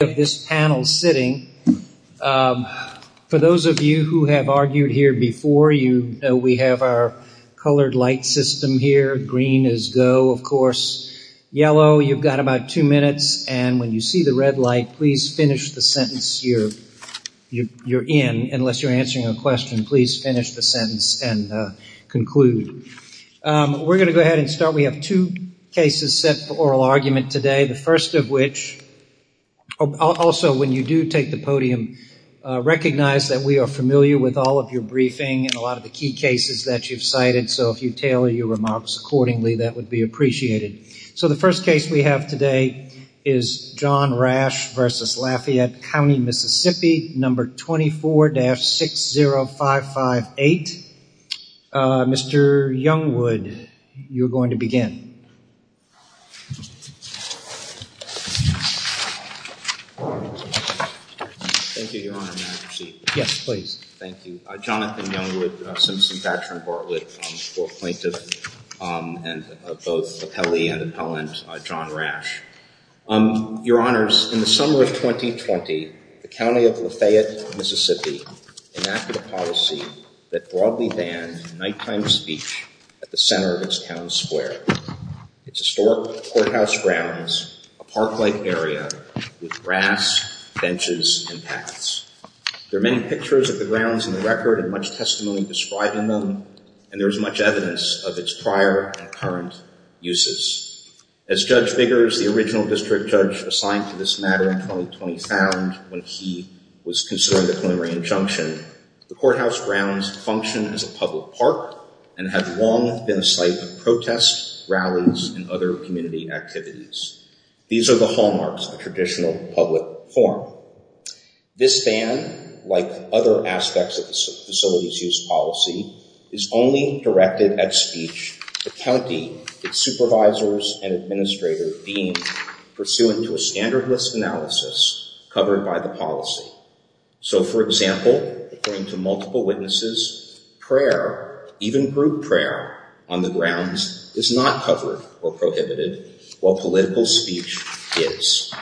of this panel sitting. For those of you who have argued here before, you know we have our colored light system here. Green is go, of course. Yellow, you've got about two minutes, and when you see the red light, please finish the sentence you're in, unless you're answering a question. Please finish the sentence and conclude. We're going to go ahead and start. We have two cases set for oral argument today, the first of which, also when you do take the podium, recognize that we are familiar with all of your briefing and a lot of the key cases that you've cited, so if you tailor your remarks accordingly, that would be appreciated. So the first case we have today is John Rash v. Lafayette County, Mississippi, No. 24-60558. Mr. Youngwood, you're going to begin. Thank you, Your Honor. May I proceed? Yes, please. Thank you. Jonathan Youngwood, Simpson-Thatcher & Bartlett, fourth plaintiff, and both appellee and appellant John Rash. Your Honors, in the summer of 2020, the County of Lafayette, Mississippi, enacted a policy that broadly banned nighttime speech at the center of its town square, its historic courthouse grounds, a park-like area with grass, benches, and paths. There are many pictures of the grounds in the record and much testimony describing them, and there is much evidence of its prior and current uses. As Judge Biggers, the original defendant, states during the preliminary injunction, the courthouse grounds function as a public park and have long been a site of protests, rallies, and other community activities. These are the hallmarks of a traditional public forum. This ban, like other aspects of the facility's use policy, is only directed at speech the county, its supervisors, and the public, and is not directed at being pursued into a standard list analysis covered by the policy. So, for example, according to multiple witnesses, prayer, even group prayer, on the grounds is not covered or prohibited while political speech is.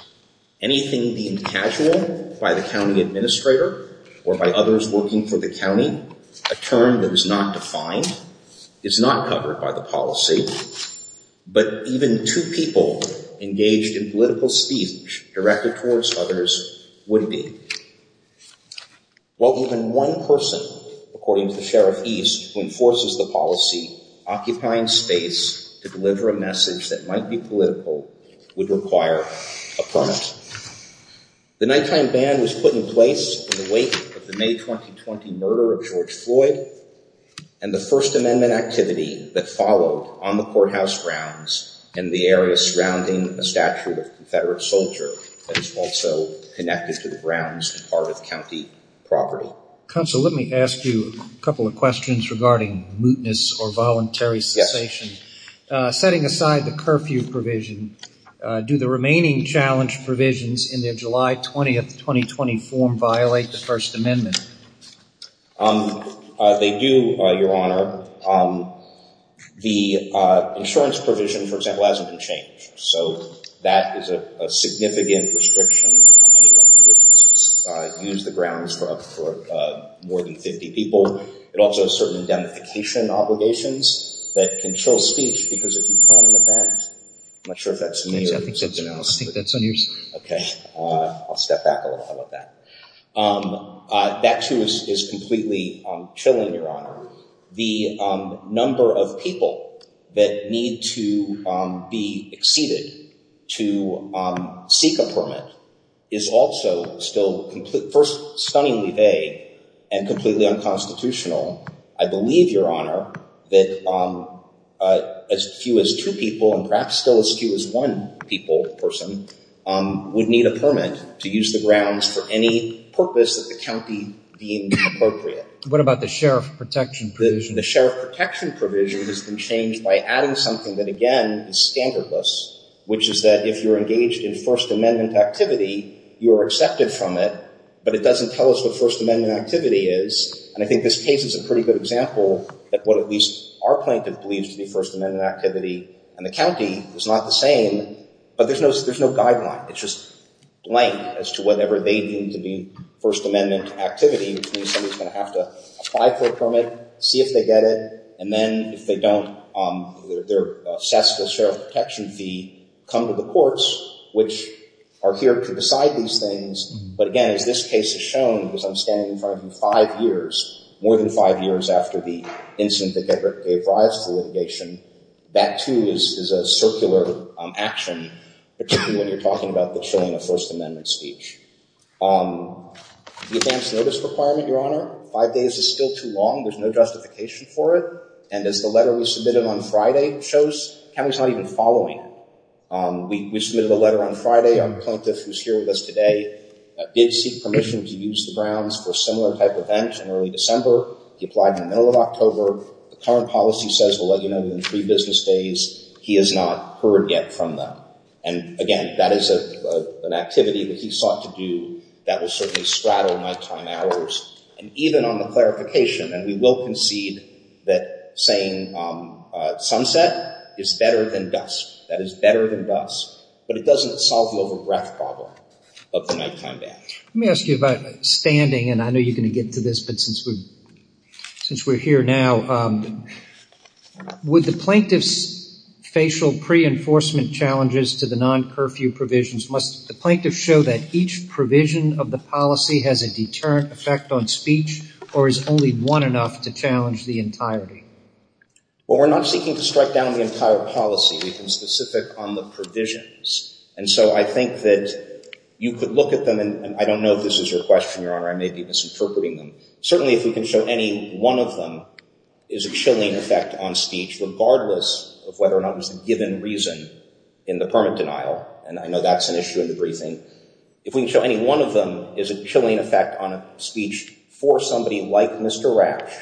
Anything being casual by the county administrator or by others working for the county, a term that is not defined, is not covered by the policy, but even two people engaged in political speech directed towards others would be. Well, even one person, according to the Sheriff East, who enforces the policy, occupying space to deliver a message that might be political, would require a permit. The nighttime ban was put in place in the wake of the May 2020 murder of George Floyd, and the First Amendment activity that followed on the courthouse grounds in the area surrounding a statue of a Confederate soldier that is also connected to the grounds and part of county property. Counsel, let me ask you a couple of questions regarding mootness or voluntary cessation. Yes. Setting aside the curfew provision, do the remaining challenge provisions in the July 20th 2020 form violate the First Amendment? They do, Your Honor. The insurance provision, for example, hasn't been changed. So that is a significant restriction on anyone who wishes to use the grounds for more than 50 people. It also has certain indemnification obligations that can chill speech because if you plan an event, I'm not sure if that's me or someone else. I'll step back a little bit on that. That too is completely chilling, Your Honor. The number of people that need to be exceeded to seek a permit is also still stunningly vague and completely unconstitutional. I believe, Your Honor, that as few as two people and perhaps still as few as one people person would need a permit to use the grounds for any purpose that the county deemed appropriate. What about the sheriff protection provision? The sheriff protection provision has been changed by adding something that, again, is standardless, which is that if you're engaged in First Amendment activity, you are accepted from it, but it doesn't tell us what First Amendment activity is. This is a pretty good example of what at least our plaintiff believes to be First Amendment activity, and the county is not the same, but there's no guideline. It's just blank as to whatever they deem to be First Amendment activity, which means somebody is going to have to apply for a permit, see if they get it, and then if they don't, their cessful sheriff protection fee, come to the courts, which are here to decide these things. But again, as this case has shown, because I'm standing in front of you five years, more than five years after the incident that gave rise to litigation, that, too, is a circular action, particularly when you're talking about the chilling of First Amendment speech. The advance notice requirement, Your Honor, five days is still too long. There's no justification for it, and as the letter we submitted on Friday shows, county's not even following it. We submitted a letter on Friday on the plaintiff, who's here with us today, that did seek permission to use the grounds for a similar type event in early December. He applied in the middle of October. The current policy says we'll let you know within three business days. He has not heard yet from them, and again, that is an activity that he sought to do that will certainly straddle nighttime hours, and even on the clarification, and we will concede that saying sunset is better than dusk. That is better than dusk, but it doesn't solve the over-breath problem of the nighttime ban. Let me ask you about standing, and I know you're going to get to this, but since we're here now, would the plaintiff's facial pre-enforcement challenges to the non-curfew provisions, must the plaintiff show that each provision of the policy has a deterrent effect on speech, or is only one enough to challenge the entirety? Well, we're not seeking to strike down the entire policy. We've been specific on the provisions, and so I think that you could look at them, and I don't know if this is your question, Your Honor. I may be misinterpreting them. Certainly, if we can show any one of them is a chilling effect on speech, regardless of whether or not it was a given reason in the permit denial, and I know that's an issue in the briefing. If we can show any one of them is a chilling effect on speech for somebody like Mr. Rasch,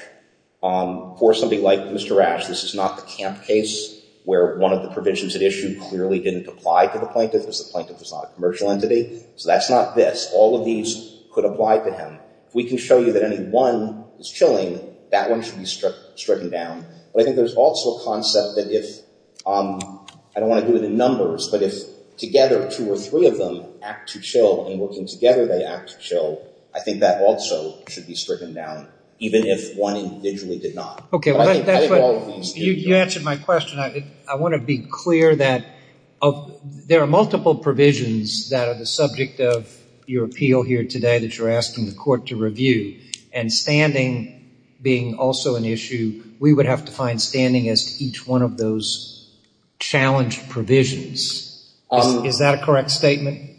this is not the camp case where one of the provisions at issue clearly didn't apply to the plaintiff, because the plaintiff is not a commercial entity. So that's not this. All of these could apply to him. If we can show you that any one is chilling, that one should be stricken down, but I think there's also a concept that if, I don't want to do it in numbers, but if together two or three of them act to chill, and working together they act to chill, I think that also should be stricken down, even if one individually did not. You answered my question. I want to be clear that there are multiple provisions that are the subject of your appeal here today that you're asking the court to review, and standing being also an issue, we would have to find standing as to each one of those challenge provisions. Is that a correct statement?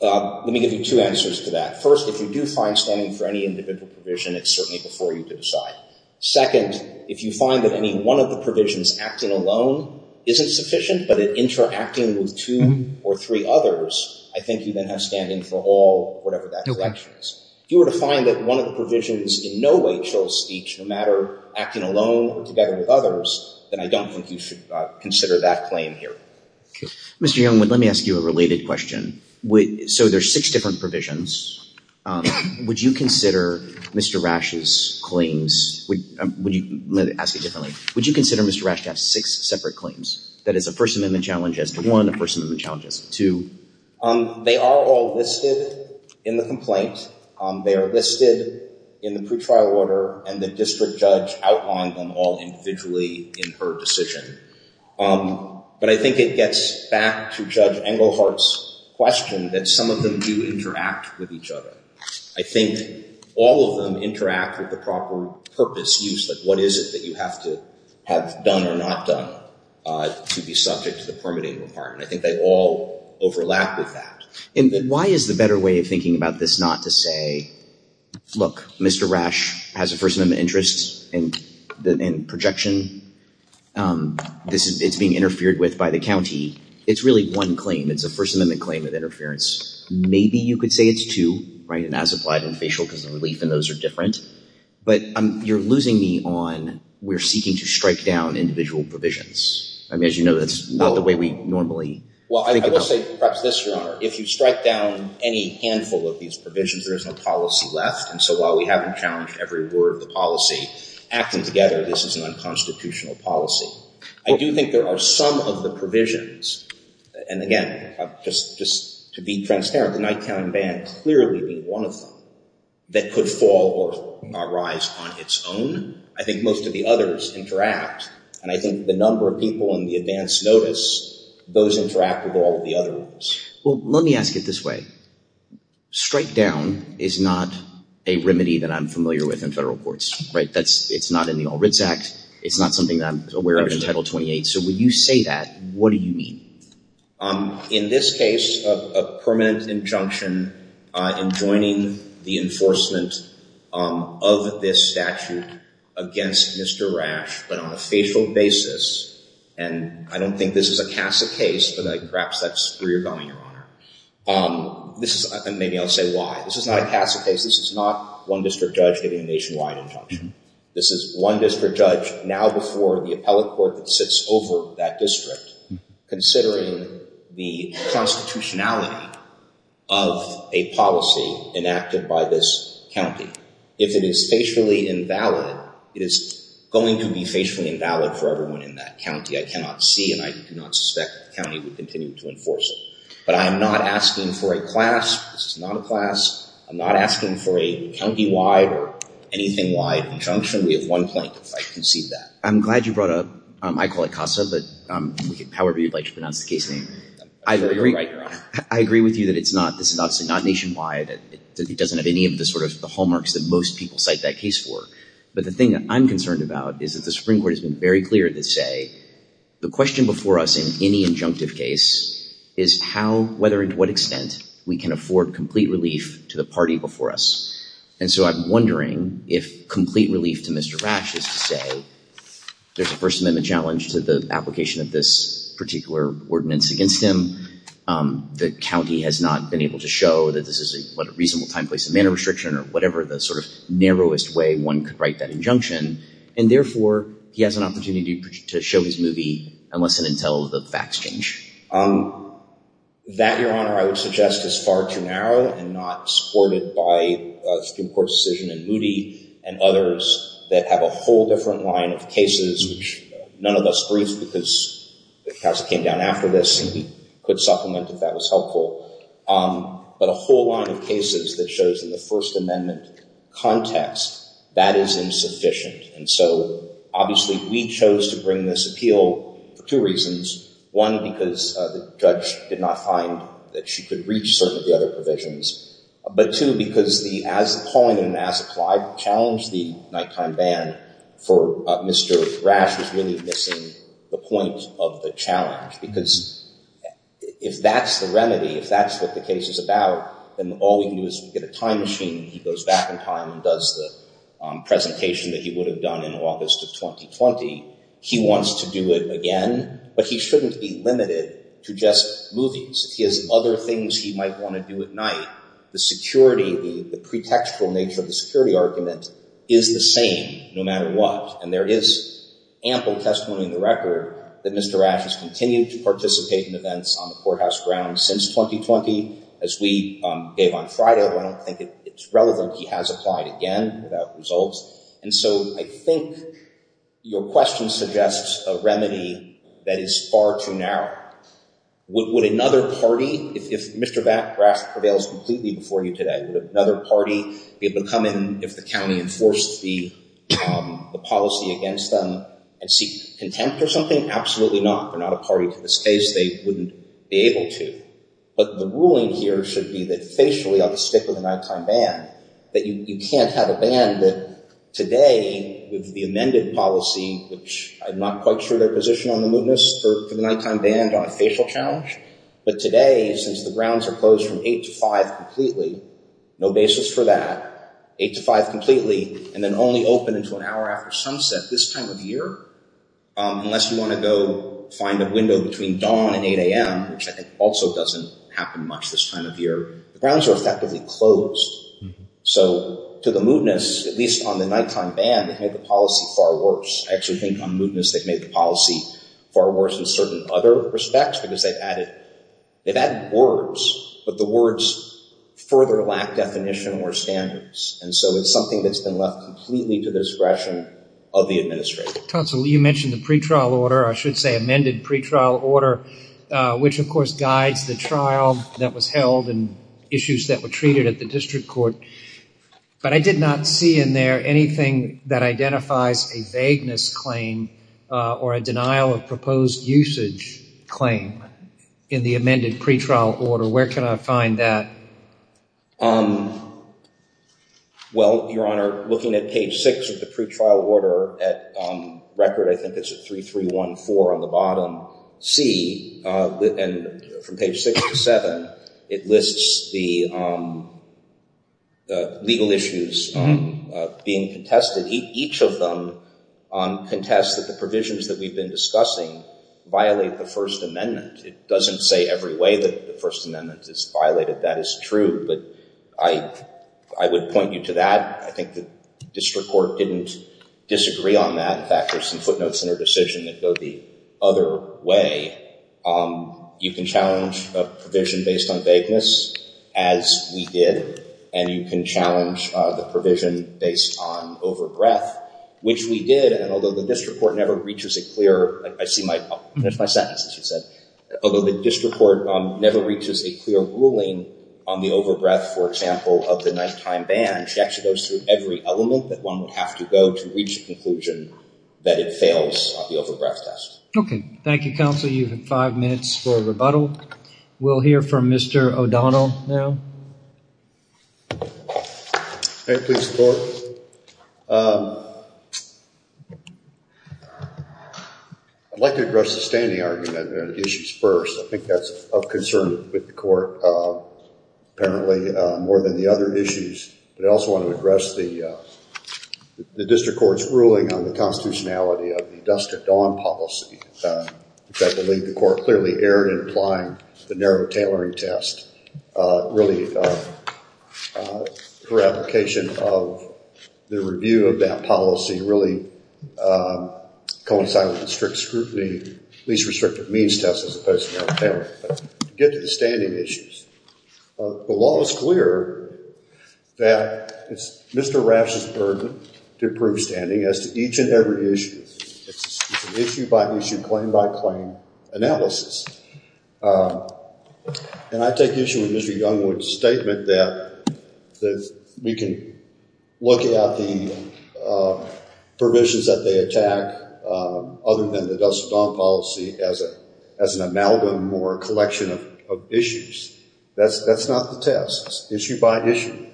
Let me give you two answers to that. First, if you do find standing for any individual provision, it's certainly before you to decide. Second, if you find that any one of the provisions acting alone isn't sufficient, but it interacting with two or three others, I think you then have standing for all, whatever that direction is. If you were to find that one of the provisions in no way chills speech, no matter acting alone or together with others, then I don't think you should consider that claim here. Mr. Youngwood, let me ask you a related question. There are six different provisions. Would you consider Mr. Rash's claims... Let me ask it differently. Would you consider Mr. Rash to have six separate claims? That is, a First Amendment challenge as to one, a First Amendment challenge as to two? They are all listed in the complaint. They are listed in the pretrial order, and the district judge outlined them all individually in her decision. But I think it gets back to Judge Englehart's question that some of them do interact with each other. I think all of them interact with the proper purpose used. What is it that you have to have done or not done to be subject to the permitting requirement? I think they all overlap with that. Why is the better way of thinking about this not to say, look, Mr. Rash has a First Amendment interest in projection. It's being interfered with by the county. It's really one claim. It's a First Amendment claim of interference. Maybe you could say it's two, and as applied in facial, because the relief in those are different. But you're losing me on we're seeking to strike down individual provisions. I mean, as you know, that's not the way we normally... Well, I will say perhaps this, Your Honor. If you strike down any handful of these provisions, there is no policy left, and so while we haven't challenged every word of the policy, acting together, this is an unconstitutional policy. I do think there are some of the provisions, and again, just to be transparent, the Nighttown Ban clearly being one of them, that could fall or arise on its own. I think most of the others interact, and I think the number of people on the advance notice, those interact with all of the others. Well, let me ask it this way. Strike down is not a remedy that I'm familiar with in federal courts, right? It's not in the All Writs Act. It's not something that I'm aware of in Title 28. So when you say that, what do you mean? In this case, a permanent injunction enjoining the enforcement of this statute against Mr. Rash, but on a facial basis, and I don't think this is a CASA case, but perhaps that's where you're going, Your Honor. Maybe I'll say why. This is not a CASA case. This is not one district judge getting a nationwide injunction. This is one district judge, now before the appellate court that sits over that district, considering the constitutionality of a policy enacted by this county. If it is facially invalid, it is going to be facially invalid for everyone in that county. I cannot see, and I do not suspect the county would continue to enforce it. But I am not asking for a CLASP. This is not a CLASP. I'm not asking for a county-wide or anything-wide injunction. We have one plaintiff. I concede that. I'm glad you brought up, I call it CASA, but however you'd like to pronounce the case name. I agree with you that this is obviously not nationwide. It doesn't have any of the hallmarks that most people cite that case for. But the thing I'm concerned about is that the Supreme Court has been very clear to say the question before us in any injunctive case is how, whether, and to what extent we can afford complete relief to the party before us. And so I'm wondering if complete relief to Mr. Rash is to say there's a First Amendment challenge to the application of this particular ordinance against him. The county has not been able to show that this is a reasonable time, place, and manner restriction or whatever the sort of narrowest way one could write that injunction. And therefore, he has an opportunity to show his movie unless and until the facts change. That, Your Honor, I would suggest is far too narrow and not supported by Supreme Court decision and Moody and others that have a whole different line of cases, which none of us briefed because the CASA came down after this and could supplement if that was helpful. But a whole line of cases that shows in the First Amendment context, that is insufficient. And so, obviously, we chose to bring this appeal for two reasons. One, because the judge did not find that she has a point in an as-applied challenge, the nighttime ban for Mr. Rash was really missing the point of the challenge. Because if that's the remedy, if that's what the case is about, then all we can do is get a time machine and he goes back in time and does the presentation that he would have done in August of 2020. He wants to do it again, but he shouldn't be limited to just movies. He has other things he might want to do at night. The security, the pretextual nature of the security argument is the same no matter what. And there is ample testimony in the record that Mr. Rash has continued to participate in events on the courthouse grounds since 2020, as we gave on Friday. I don't think it's relevant he has applied again without results. And so, I think your question suggests a remedy that is far too narrow. Would another party, if Mr. Rash prevails completely before you today, would another party be able to come in if the county enforced the policy against them and seek contempt or something? Absolutely not. They're not a party to this case. They wouldn't be able to. But the ruling here should be that facially on the stick of the nighttime ban, that you can't have a ban that today with the amended policy, which I'm not quite sure their position on the nighttime ban on a facial challenge, but today since the grounds are closed from 8 to 5 completely, no basis for that, 8 to 5 completely and then only open until an hour after sunset this time of year, unless you want to go find a window between dawn and 8 a.m., which I think also doesn't happen much this time of year, the grounds are effectively closed. So, to the extent that the county has a right to enforce a certain other respect, because they've added words, but the words further lack definition or standards. And so, it's something that's been left completely to the discretion of the administrator. Counsel, you mentioned the pretrial order, I should say amended pretrial order, which of course guides the trial that was held and issues that were treated at the district court, but I did not see in there anything that identifies a vagueness claim or a denial of proposed usage claim in the amended pretrial order. Where can I find that? Well, Your Honor, looking at page 6 of the pretrial order at record, I think it's at 3314 on the bottom, C, and from page 6 to 7, it lists the legal issues being contested. Each of them contests that the provisions that we've been discussing violate the First Amendment. It doesn't say every way that the First Amendment is violated, that is true, but I would point you to that. I think the district court didn't disagree on that. In fact, there's some footnotes in her decision that go the other way. You can challenge a provision based on vagueness as we did, and you can challenge the provision based on over-breath, which we did, and although the district court never reaches a clear, I see my, there's my sentence, as you said, although the district court never reaches a clear ruling on the over-breath, for example, of the nighttime ban, she actually goes through every element that one would have to go to reach a conclusion that it fails on the over-breath test. Okay. Thank you, Counsel. You have five minutes for rebuttal. We'll hear from Mr. O'Donnell now. May it please the Court? I'd like to address the standing argument issues first. I think that's of concern with the Court apparently more than the other issues, but I also want to address the district court's ruling on the constitutionality of the Dusk to Dawn policy, which I believe the Court clearly erred in applying the narrow tailoring test really for application of the review of that policy really coincided with the strict scrutiny, least restrictive means test as opposed to narrow tailoring test. To get to the standing issues, the law is clear that it's Mr. Raff's burden to prove standing as to each and every issue. It's an issue by issue, claim by claim analysis. And I take issue with Mr. Youngwood's statement that we can look at the provisions that they attack other than the Dusk to Dawn policy as an amalgam or a collection of issues. That's not the test. It's issue by issue.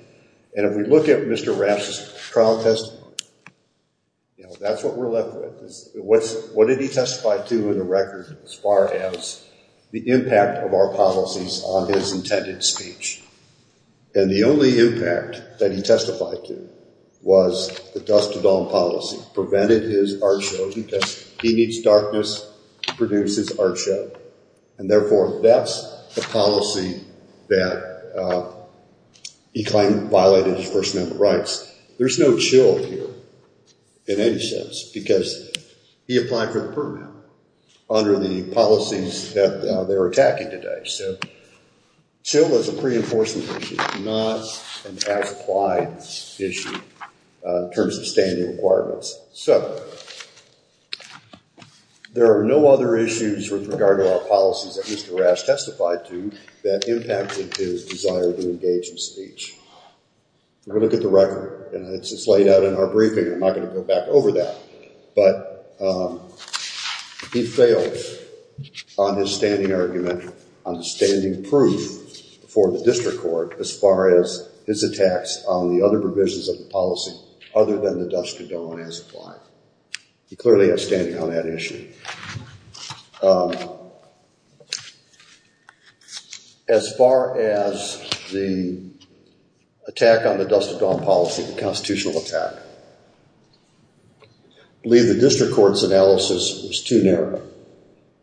And if we look at Mr. Raff's trial testimony, that's what we're left with. What did he testify to in the record as far as the impact of our policies on his intended speech? And the only impact that he testified to was the Dusk to Dawn policy prevented his art show because he needs darkness to produce his art show. And therefore, that's the policy that he claimed violated his First Amendment rights. There's no chill here in any sense because he applied for the permit under the policies that they're attacking today. So chill is a pre-enforcement issue, not an as-applied issue in terms of standing requirements. So there are no other issues with regard to our policies that Mr. Raff testified to that impacted his desire to engage in speech. If we look at the record, and it's laid out in our briefing, I'm not going to go back over that. But he failed on his standing argument on standing proof for the district court as far as his attacks on the other provisions of the policy other than the Dusk to Dawn as-applied. He clearly has standing on that issue. As far as the attack on the Dusk to Dawn policy, the constitutional attack, I believe the district court's analysis was too narrow.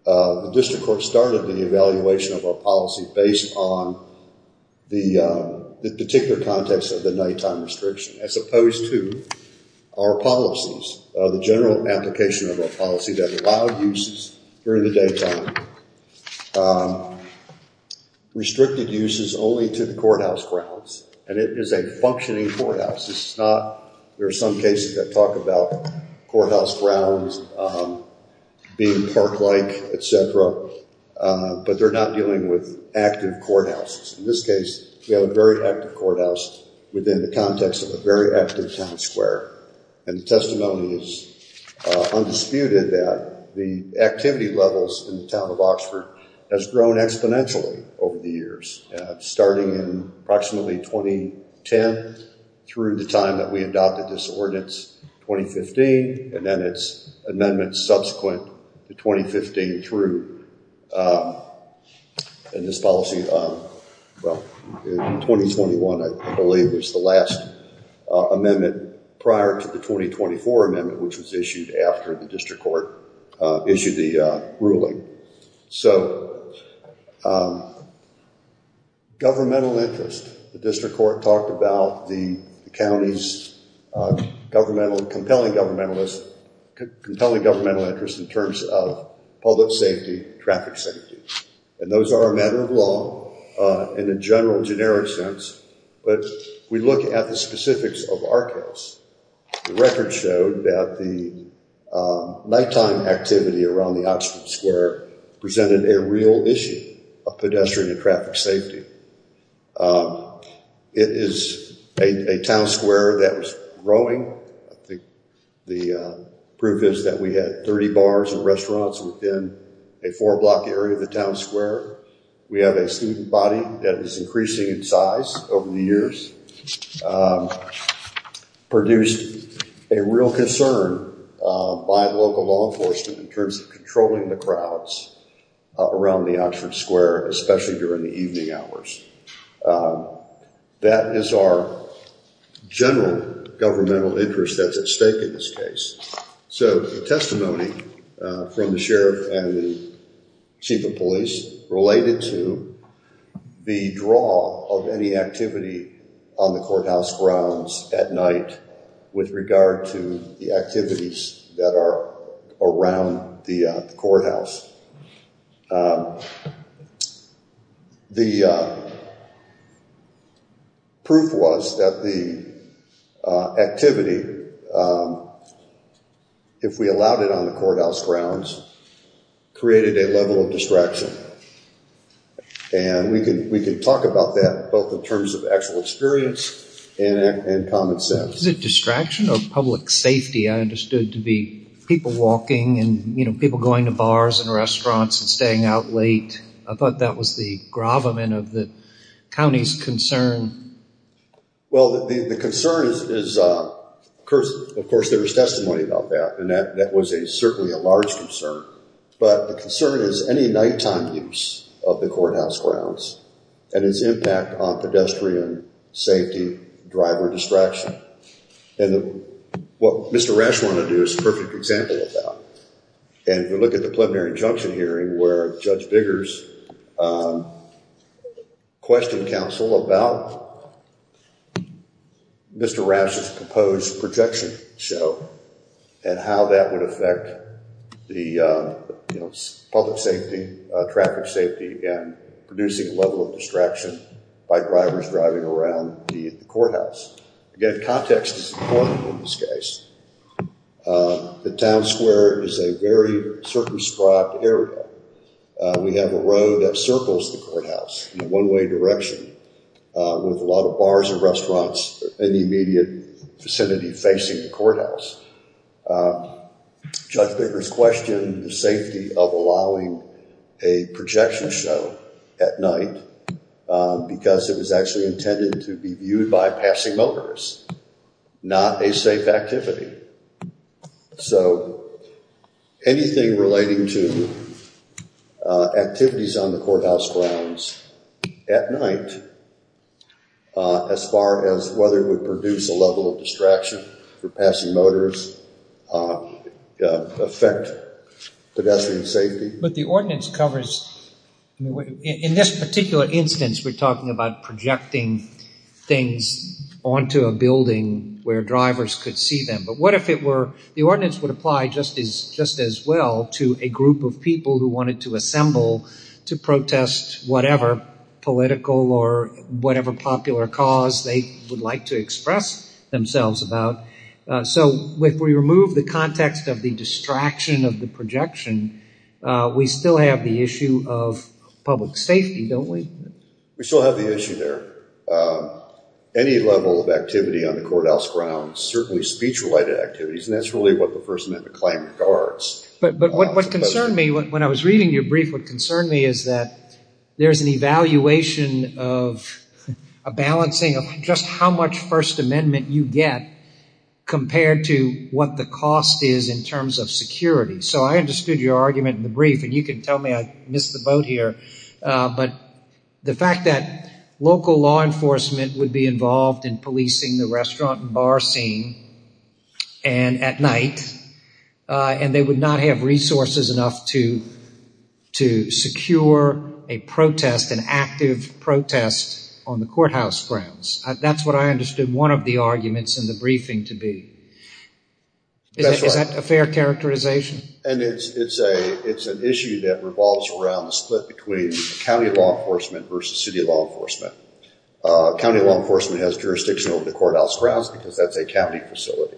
The district court started the evaluation of our policy based on the particular context of the nighttime restriction as opposed to our policies, the general application of our policy that allowed uses during the daytime, restricted uses only to the courthouse grounds. And it is a functioning courthouse. There are some cases that talk about courthouse grounds being park-like, etc., but they're not dealing with active courthouses. In this case, we have a very active courthouse within the context of a very active town square. And the testimony is undisputed that the activity levels in the town of Oxford has grown exponentially over the years, starting in approximately 2010 through the time that we adopted this ordinance, 2015, and then it's amendments subsequent to 2015 through in this policy. Well, in 2021, I believe was the last amendment prior to the 2024 amendment, which was issued after the district court issued the ruling. So, governmental interest. The district court talked about the county's compelling governmental interest in terms of public safety, traffic safety. And those are a matter of law in a general, generic sense, but we look at the specifics of our case. The record showed that the nighttime activity around the Oxford Square presented a real issue of pedestrian and traffic safety. It is a town square that was growing. The proof is that we had 30 bars and restaurants within a four-block area of the town square. We have a student body that is increasing in size over the years. Produced a real concern by local law in terms of controlling the crowds around the Oxford Square, especially during the evening hours. That is our general governmental interest that's at stake in this case. So, testimony from the sheriff and the chief of police related to the draw of any activity on the courthouse grounds at night with regard to the activities that are around the courthouse. The proof was that the activity, if we allowed it on the courthouse grounds, created a level of distraction. And we can talk about that both in terms of actual experience and common sense. Is it distraction or public safety? I understood to be people walking and people going to bars and restaurants and staying out late. I thought that was the gravamen of the county's concern. Well, the concern is, of course, there is testimony about that. And that was certainly a large concern. But the concern is any night-time use of the courthouse grounds and its impact on pedestrian safety, driver distraction. And what Mr. Rasch wanted to do is a perfect example of that. And if you look at the preliminary injunction hearing where Judge Biggers questioned counsel about Mr. Rasch's proposed projection show and how that would affect public safety, traffic safety, and producing a level of distraction by drivers driving around the courthouse. Again, context is important in this case. The town square is a very circumscribed area. We have a road that circles the courthouse in a one-way direction with a lot of bars and restaurants in the immediate vicinity facing the courthouse. Judge Biggers questioned the safety of allowing a projection show at night because it was actually intended to be viewed by passing motorists, not a safe activity. So anything relating to activities on the courthouse grounds at night as far as whether it would produce a level of distraction for passing motorists would affect pedestrian safety. But the ordinance covers, in this particular instance we're talking about projecting things onto a building where drivers could see them. But what if it were, the ordinance would apply just as well to a group of people who wanted to assemble to protest whatever political or whatever popular cause they would like to express themselves about. So if we remove the context of the distraction of the projection, we still have the issue of public safety, don't we? We still have the issue there. Any level of activity on the courthouse grounds, certainly speech-related activities, and that's really what the First Amendment Claim regards. But what concerned me when I was reading your brief, what concerned me is that there's an evaluation of a balancing of just how much First Amendment you get compared to what the cost is in terms of security. So I understood your argument in the brief, and you can tell me I missed the boat here, but the fact that local law enforcement would be involved in policing the restaurant and bar scene at night, and they would not have resources enough to secure a protest, an active protest on the courthouse grounds. That's what I understood one of the arguments in the briefing to be. Is that a fair characterization? And it's an issue that revolves around a split between county law enforcement versus city law enforcement. County law enforcement has jurisdiction over the courthouse grounds because that's a county facility.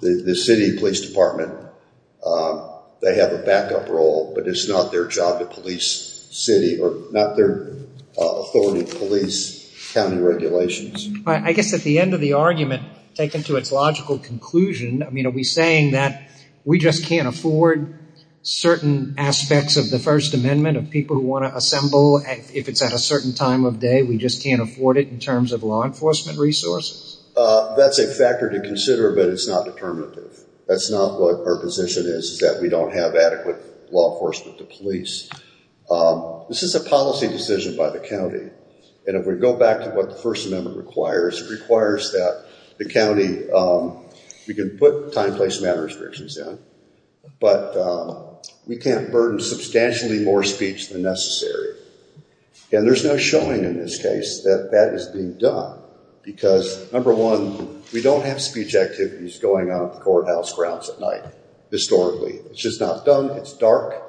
The city police department, they have a backup role, but it's not their job to police city, or not their authority to police county regulations. I guess at the end of the argument, taken to its logical conclusion, are we saying that we just can't afford certain aspects of the First Amendment of people who want to assemble, if it's at a certain time of day, we just can't afford it in terms of law enforcement resources? That's a factor to consider, but it's not determinative. That's not what our position is, is that we don't have adequate law enforcement to police. This is a policy decision by the county, and if we go back to what the First Amendment requires, it requires that the county, we can put time, place, and manner restrictions in, but we can't burden substantially more speech than necessary. And there's no showing in this case that that is being done, because number one, we don't have speech activities going on at the courthouse grounds at night, historically. It's just not done. It's dark.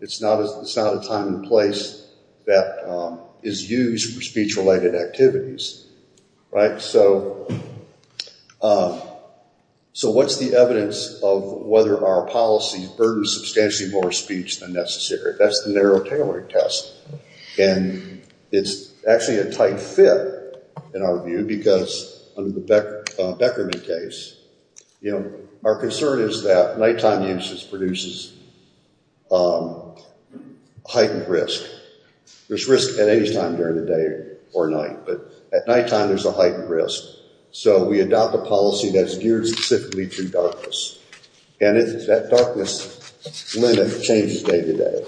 It's not a time and place that is used for speech-related activities. So, what's the evidence of whether our policy burdens substantially more speech than necessary? That's the narrow tailoring test, and it's actually a tight fit, in our view, because under the Beckerman case, our concern is that night-time use produces heightened risk. There's risk at any time during the day or night, but at night-time, there's a heightened risk. So, we adopt a policy that's geared specifically to darkness, and that darkness limit changes day-to-day.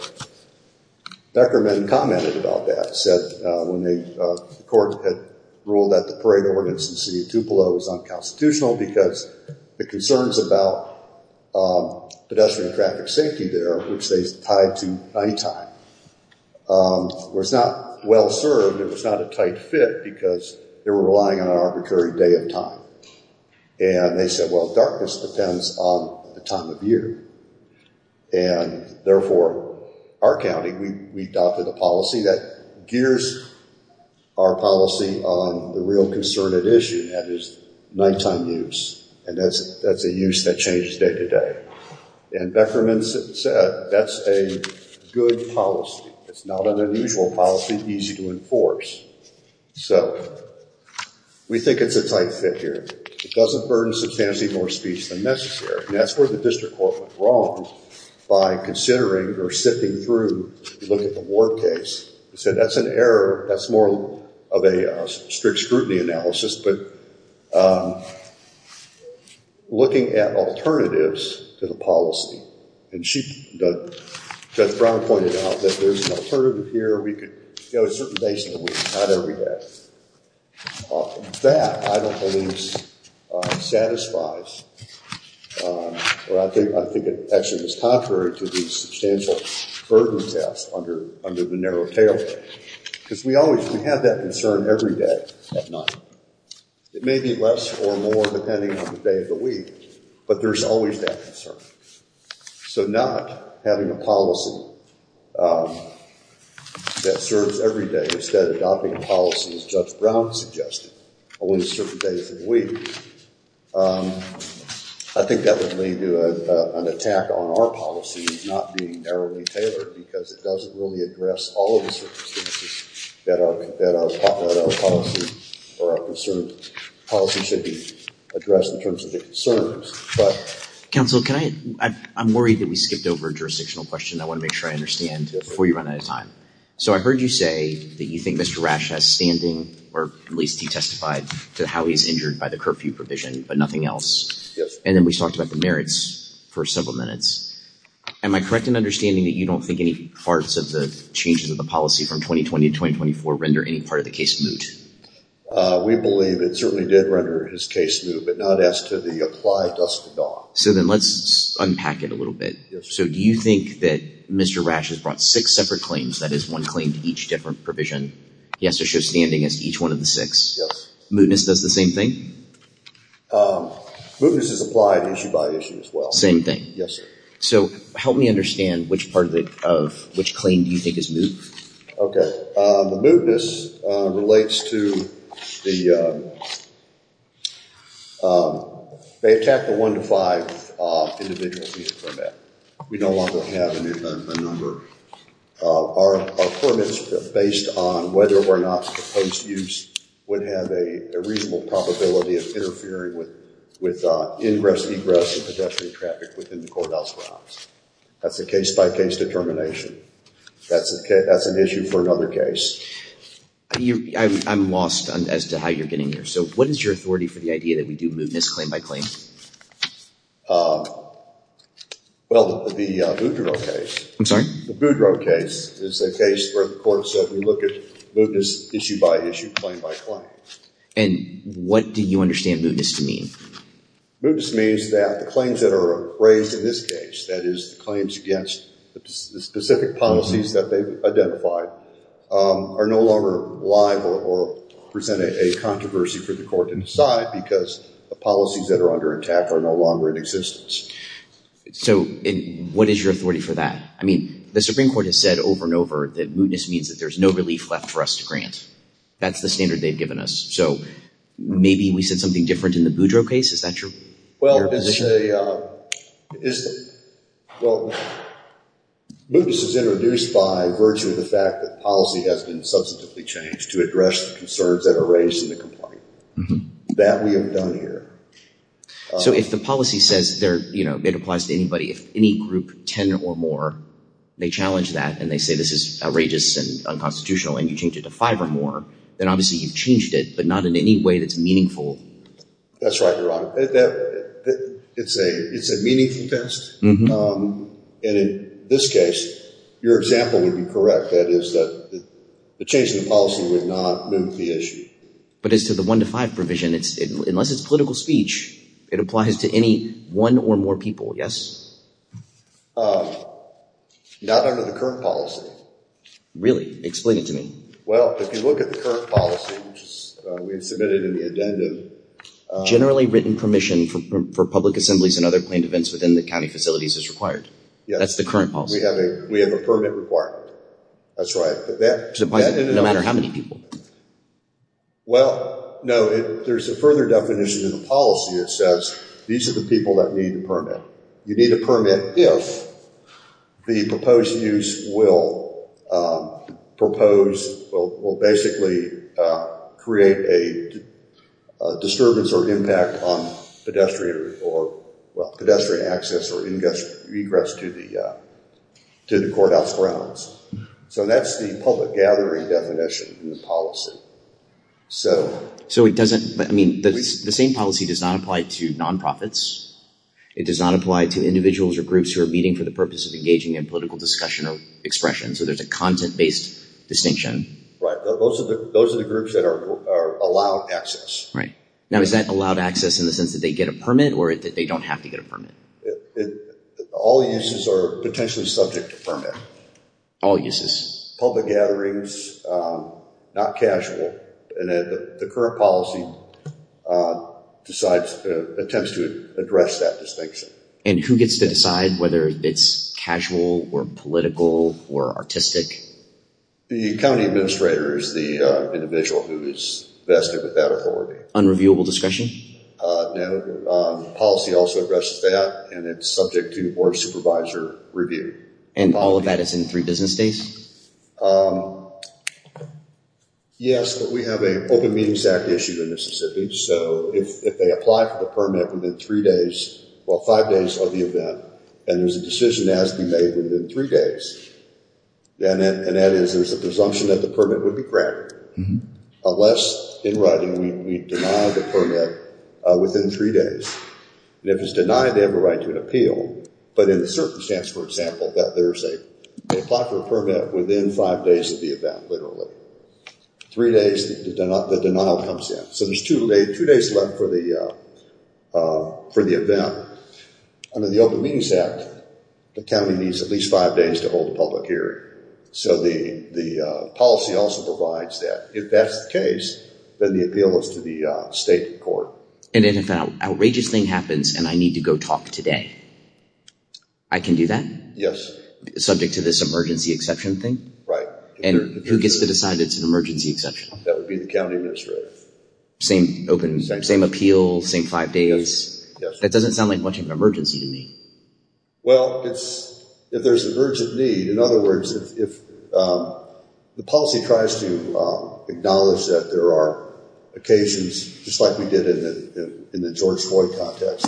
Beckerman commented about that, said when the court had ruled that the parade ordinance in the city of Tupelo was unconstitutional because the concerns about pedestrian traffic safety there, which they tied to night-time, was not well served. It was not a tight fit because they were relying on an arbitrary day and time. And they said, well, darkness depends on the time of year, and therefore, our county, we adopted a policy that gears our policy on the real concern at issue, and that is night-time use, and that's a use that changes day-to-day. And Beckerman said that's a good policy. It's not an unusual policy, easy to enforce. So, we think it's a tight fit here. It doesn't burden substantively more speech than necessary, and that's where the district court went wrong by considering or sifting through to look at the Ward case. They said that's an error, that's more of a strict scrutiny analysis, but looking at alternatives to the policy. And Judge Brown pointed out that there's an alternative here. We could go a certain days of the week, not every day. That, I don't believe, satisfies, or I think it actually is contrary to the substantial burden test under the narrow tailgate. Because we always, we have that concern every day at night. It may be less or more depending on the day of the week, but there's always that concern. So, not having a policy that serves every day instead of adopting a policy, as Judge Brown suggested, only certain days of the week, I think that would lead to an attack on our policy not being narrowly tailored because it doesn't really address all of the circumstances that are popular in our policy or our concerns. Policy should be addressed in terms of the concerns. Counsel, I'm worried that we skipped over a jurisdictional question. I want to make sure I understand before you run out of time. So, I heard you say that you think Mr. Rasch has standing, or at least he testified, to how he's injured by the curfew provision, but nothing else. And then we talked about the merits for several minutes. Am I correct in understanding that you don't think any parts of the changes of the policy from 2020 to 2024 render any part of the case moot? We believe it certainly did render his case moot, but not as to the applied dust to dog. So, then let's unpack it a little bit. So, do you think that Mr. Rasch has brought six separate claims, that is, one claim to each different provision? He has to show standing as to each one of the six? Yes. Mootness does the same thing? Mootness is applied issue by issue as well. Same thing? Yes, sir. So, help me understand which part of, which claim do you think is moot? Okay. The mootness relates to the, they attack the one to five individual. We no longer have a number. Our performance based on whether or not the post use would have a reasonable probability of interfering with ingress, egress, and pedestrian traffic within the courthouse grounds. That's a case by case determination. That's an issue for another case. I'm lost as to how you're getting here. So, what is your authority for the idea that we do mootness claim by claim? Well, the Boudreaux case. I'm sorry? The Boudreaux case is a case where the court said we look at mootness issue by issue, claim by claim. And what do you understand mootness to mean? Mootness means that the claims that are raised in this case, that is the claims against the specific policies that they've identified, are no longer live or present a controversy for the court to decide because the policies that are under attack are no longer in existence. So, what is your authority for that? I mean, the Supreme Court has said over and over that mootness means that there's no relief left for us to grant. That's the standard they've given us. So, maybe we said something different in the Boudreaux case? Is that your position? Well, mootness is introduced by virtue of the fact that policy has been substantively changed to address the concerns that are raised in the complaint. That we have done here. So, if the policy says, you know, it applies to anybody, if any group, 10 or more, they challenge that and they say this is outrageous and unconstitutional and you change it to 5 or more, then obviously you've changed it, but not in any way that's meaningful. That's right, Your Honor. It's a meaningful test. And in this case, your example would be correct. That is that the change in the policy would not moot the issue. But as to the 1 to 5 provision, unless it's political speech, it applies to any one or more people, yes? Not under the current policy. Really? Explain it to me. Well, if you look at the current policy, which we submitted in the addendum. Generally written permission for public assemblies and other claimed events within the county facilities is required. That's the current policy. We have a permit requirement. That's right. No matter how many people. Well, no, there's a further definition in the policy that says these are the people that need a permit. You need a permit if the proposed use will propose, will basically create a disturbance or impact on pedestrian access or regress to the courthouse grounds. So that's the public gathering definition in the policy. So it doesn't, I mean, the same policy does not apply to nonprofits. It does not apply to individuals or groups who are meeting for the purpose of engaging in political discussion or expression. So there's a content-based distinction. Right. Those are the groups that are allowed access. Now is that allowed access in the sense that they get a permit or that they don't have to get a permit? All uses are potentially subject to permit. All uses. Public gatherings, not casual. The current policy decides, attempts to address that distinction. And who gets to decide whether it's casual or political or artistic? The county administrator is the individual who is vested with that authority. Unreviewable discretion? No. Policy also addresses that and it's subject to board supervisor review. And all of that is in three business days? Yes, but we have an Open Meetings Act issued in Mississippi. So if they apply for the permit within three days, well five days of the event, and there's a decision that has to be made within three days, and that is there's a presumption that the permit would be granted. Unless in writing we deny the permit within three days. And if it's denied, they have a right to an appeal. But in the circumstance, for example, that there's a permit within five days of the event, literally. Three days, the denial comes in. So there's two days left for the event. Under the Open Meetings Act, the county needs at least five days to hold a public hearing. So the policy also provides that. If that's the case, then the appeal is to the state court. And if an outrageous thing happens and I need to go talk today, I can do that? Yes. Subject to this emergency exception thing? Right. And who gets to decide it's an emergency exception? That would be the county administrator. Same appeal, same five days? That doesn't sound like much of an emergency to me. Well, if there's an urgent need, in other words, if the policy tries to acknowledge that there are occasions, just like we did in the George Floyd context,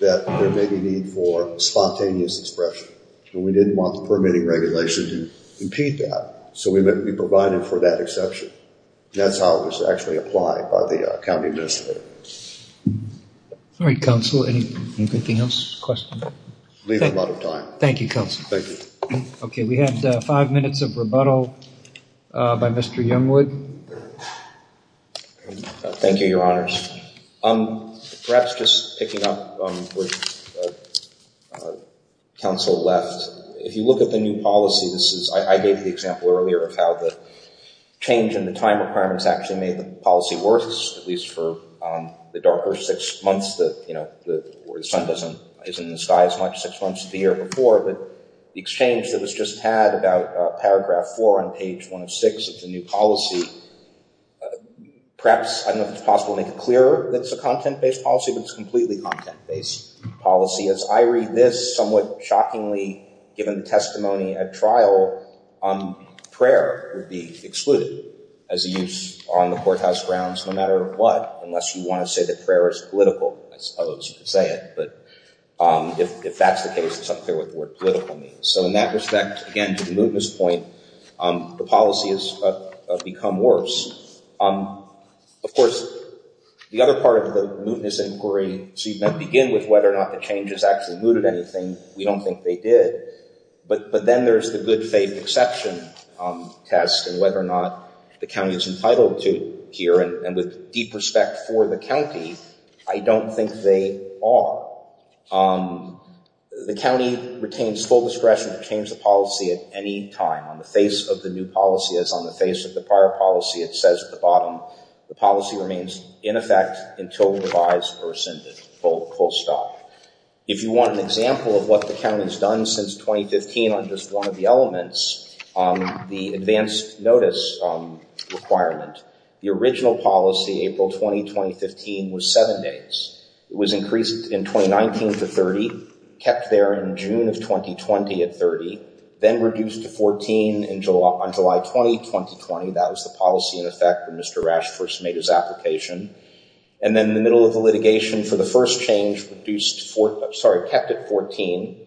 that there may be need for spontaneous expression. And we didn't want the permitting regulation to impede that. So we provided for that exception. That's how it was actually applied by the county administrator. All right, Counsel. Anything else? Leave a lot of time. Thank you, Counsel. Okay, we have five minutes of rebuttal by Mr. Youngwood. Thank you, Your Honors. Perhaps just picking up on where Counsel left, if you look at the new policy, I gave you the example earlier of how the change in the time requirements actually made the policy worse, at least for the darker six months where the sun isn't in the sky as much, six months the year before. But the exchange that was just had about paragraph four on page 106 of the new policy, perhaps, I don't know if it's possible to make it clearer that it's a content-based policy, but it's completely content-based policy. As I read this, somewhat shockingly, given the testimony at trial, prayer would be excluded as a use on the courthouse grounds no matter what, unless you want to say that prayer is political. I suppose you could say it, but if that's the case, it's unclear what the word political means. So in that respect, again, to the mootness point, the policy has become worse. Of course, the other part of the mootness inquiry, so you begin with whether or not the changes actually mooted anything. We don't think they did. But then there's the good faith exception test and whether or not the county is entitled to here. And with deep respect for the county, I don't think they are. The county retains full discretion to change the policy at any time on the face of the new policy as on the face of the prior policy. It says at the bottom, the policy remains in effect until revised or rescinded, full stop. If you want an example of what the county has done since 2015 on just one of the changes, the advanced notice requirement, the original policy April 20, 2015 was seven days. It was increased in 2019 to 30, kept there in June of 2020 at 30, then reduced to 14 on July 20, 2020. That was the policy in effect when Mr. Rash first made his application. And then in the middle of the litigation for the first change, reduced, sorry, kept at 14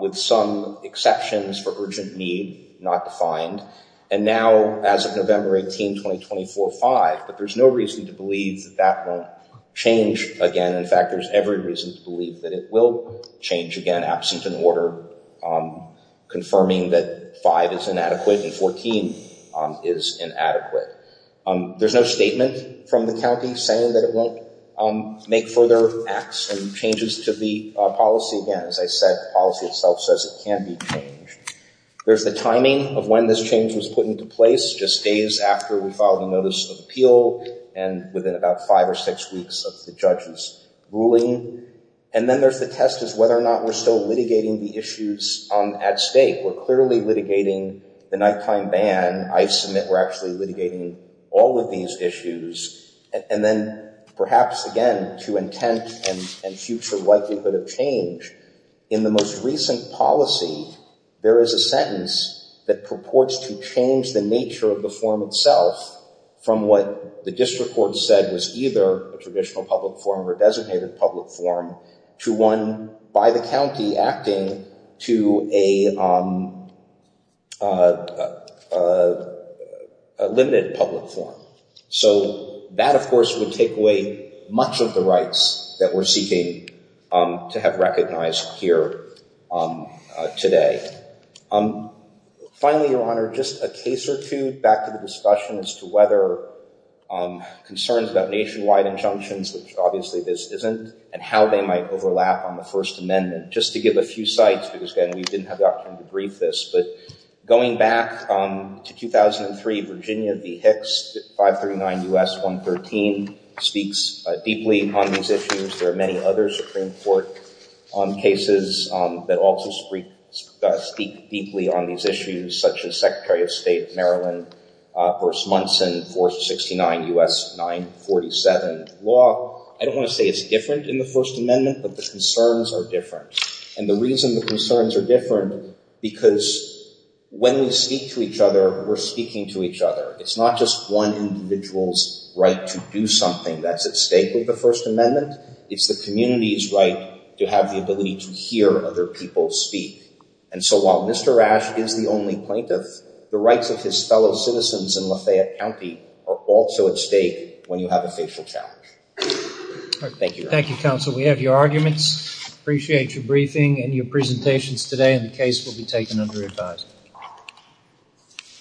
with some exceptions for urgent need not defined. And now as of November 18, 2024, five. But there's no reason to believe that that won't change again. In fact, there's every reason to believe that it will change again absent an order confirming that five is inadequate and 14 is inadequate. There's no statement from the county saying that it won't make further acts and changes to the policy. Again, as I said, the policy itself says it can't be changed. There's the timing of when this change was put into place, just days after we filed a notice of appeal and within about five or six weeks of the judge's ruling. And then there's the test of whether or not we're still at stake. We're clearly litigating the nighttime ban. I submit we're actually litigating all of these issues. And then perhaps, again, to intent and future likelihood of change in the most recent policy, there is a sentence that purports to change the nature of the form itself from what the district court said was either a traditional public form or designated public form to one by the county acting to a limited public form. So that, of course, would take away much of the rights that we're seeking to have recognized here today. Finally, Your Honor, just a case or two back to the discussion as to whether concerns about nationwide injunctions, which obviously this isn't, and how they might overlap on the First Amendment. Just to give a few sites, because, again, we didn't have the opportunity to brief this, but going back to 2003, Virginia v. Hicks, 539 U.S. 113, speaks deeply on these issues. There are many other Supreme Court cases that also speak deeply on these issues, such as Secretary of State Maryland v. Munson, 469 U.S. 947 law. I don't want to say it's different in the First Amendment, but the concerns are different. And the reason the concerns are different, because when we speak to each other, we're speaking to each other. It's not just one individual's right to do something that's at stake with the First Amendment. It's the community's right to have the ability to hear other people speak. And so while Mr. Ash is the only plaintiff, the rights of his fellow citizens in Lafayette County are also at stake when you have a facial challenge. Thank you, Your Honor. Thank you, Counsel. We have your arguments. Appreciate your briefing and your presentations today, and the case will be taken under advisory.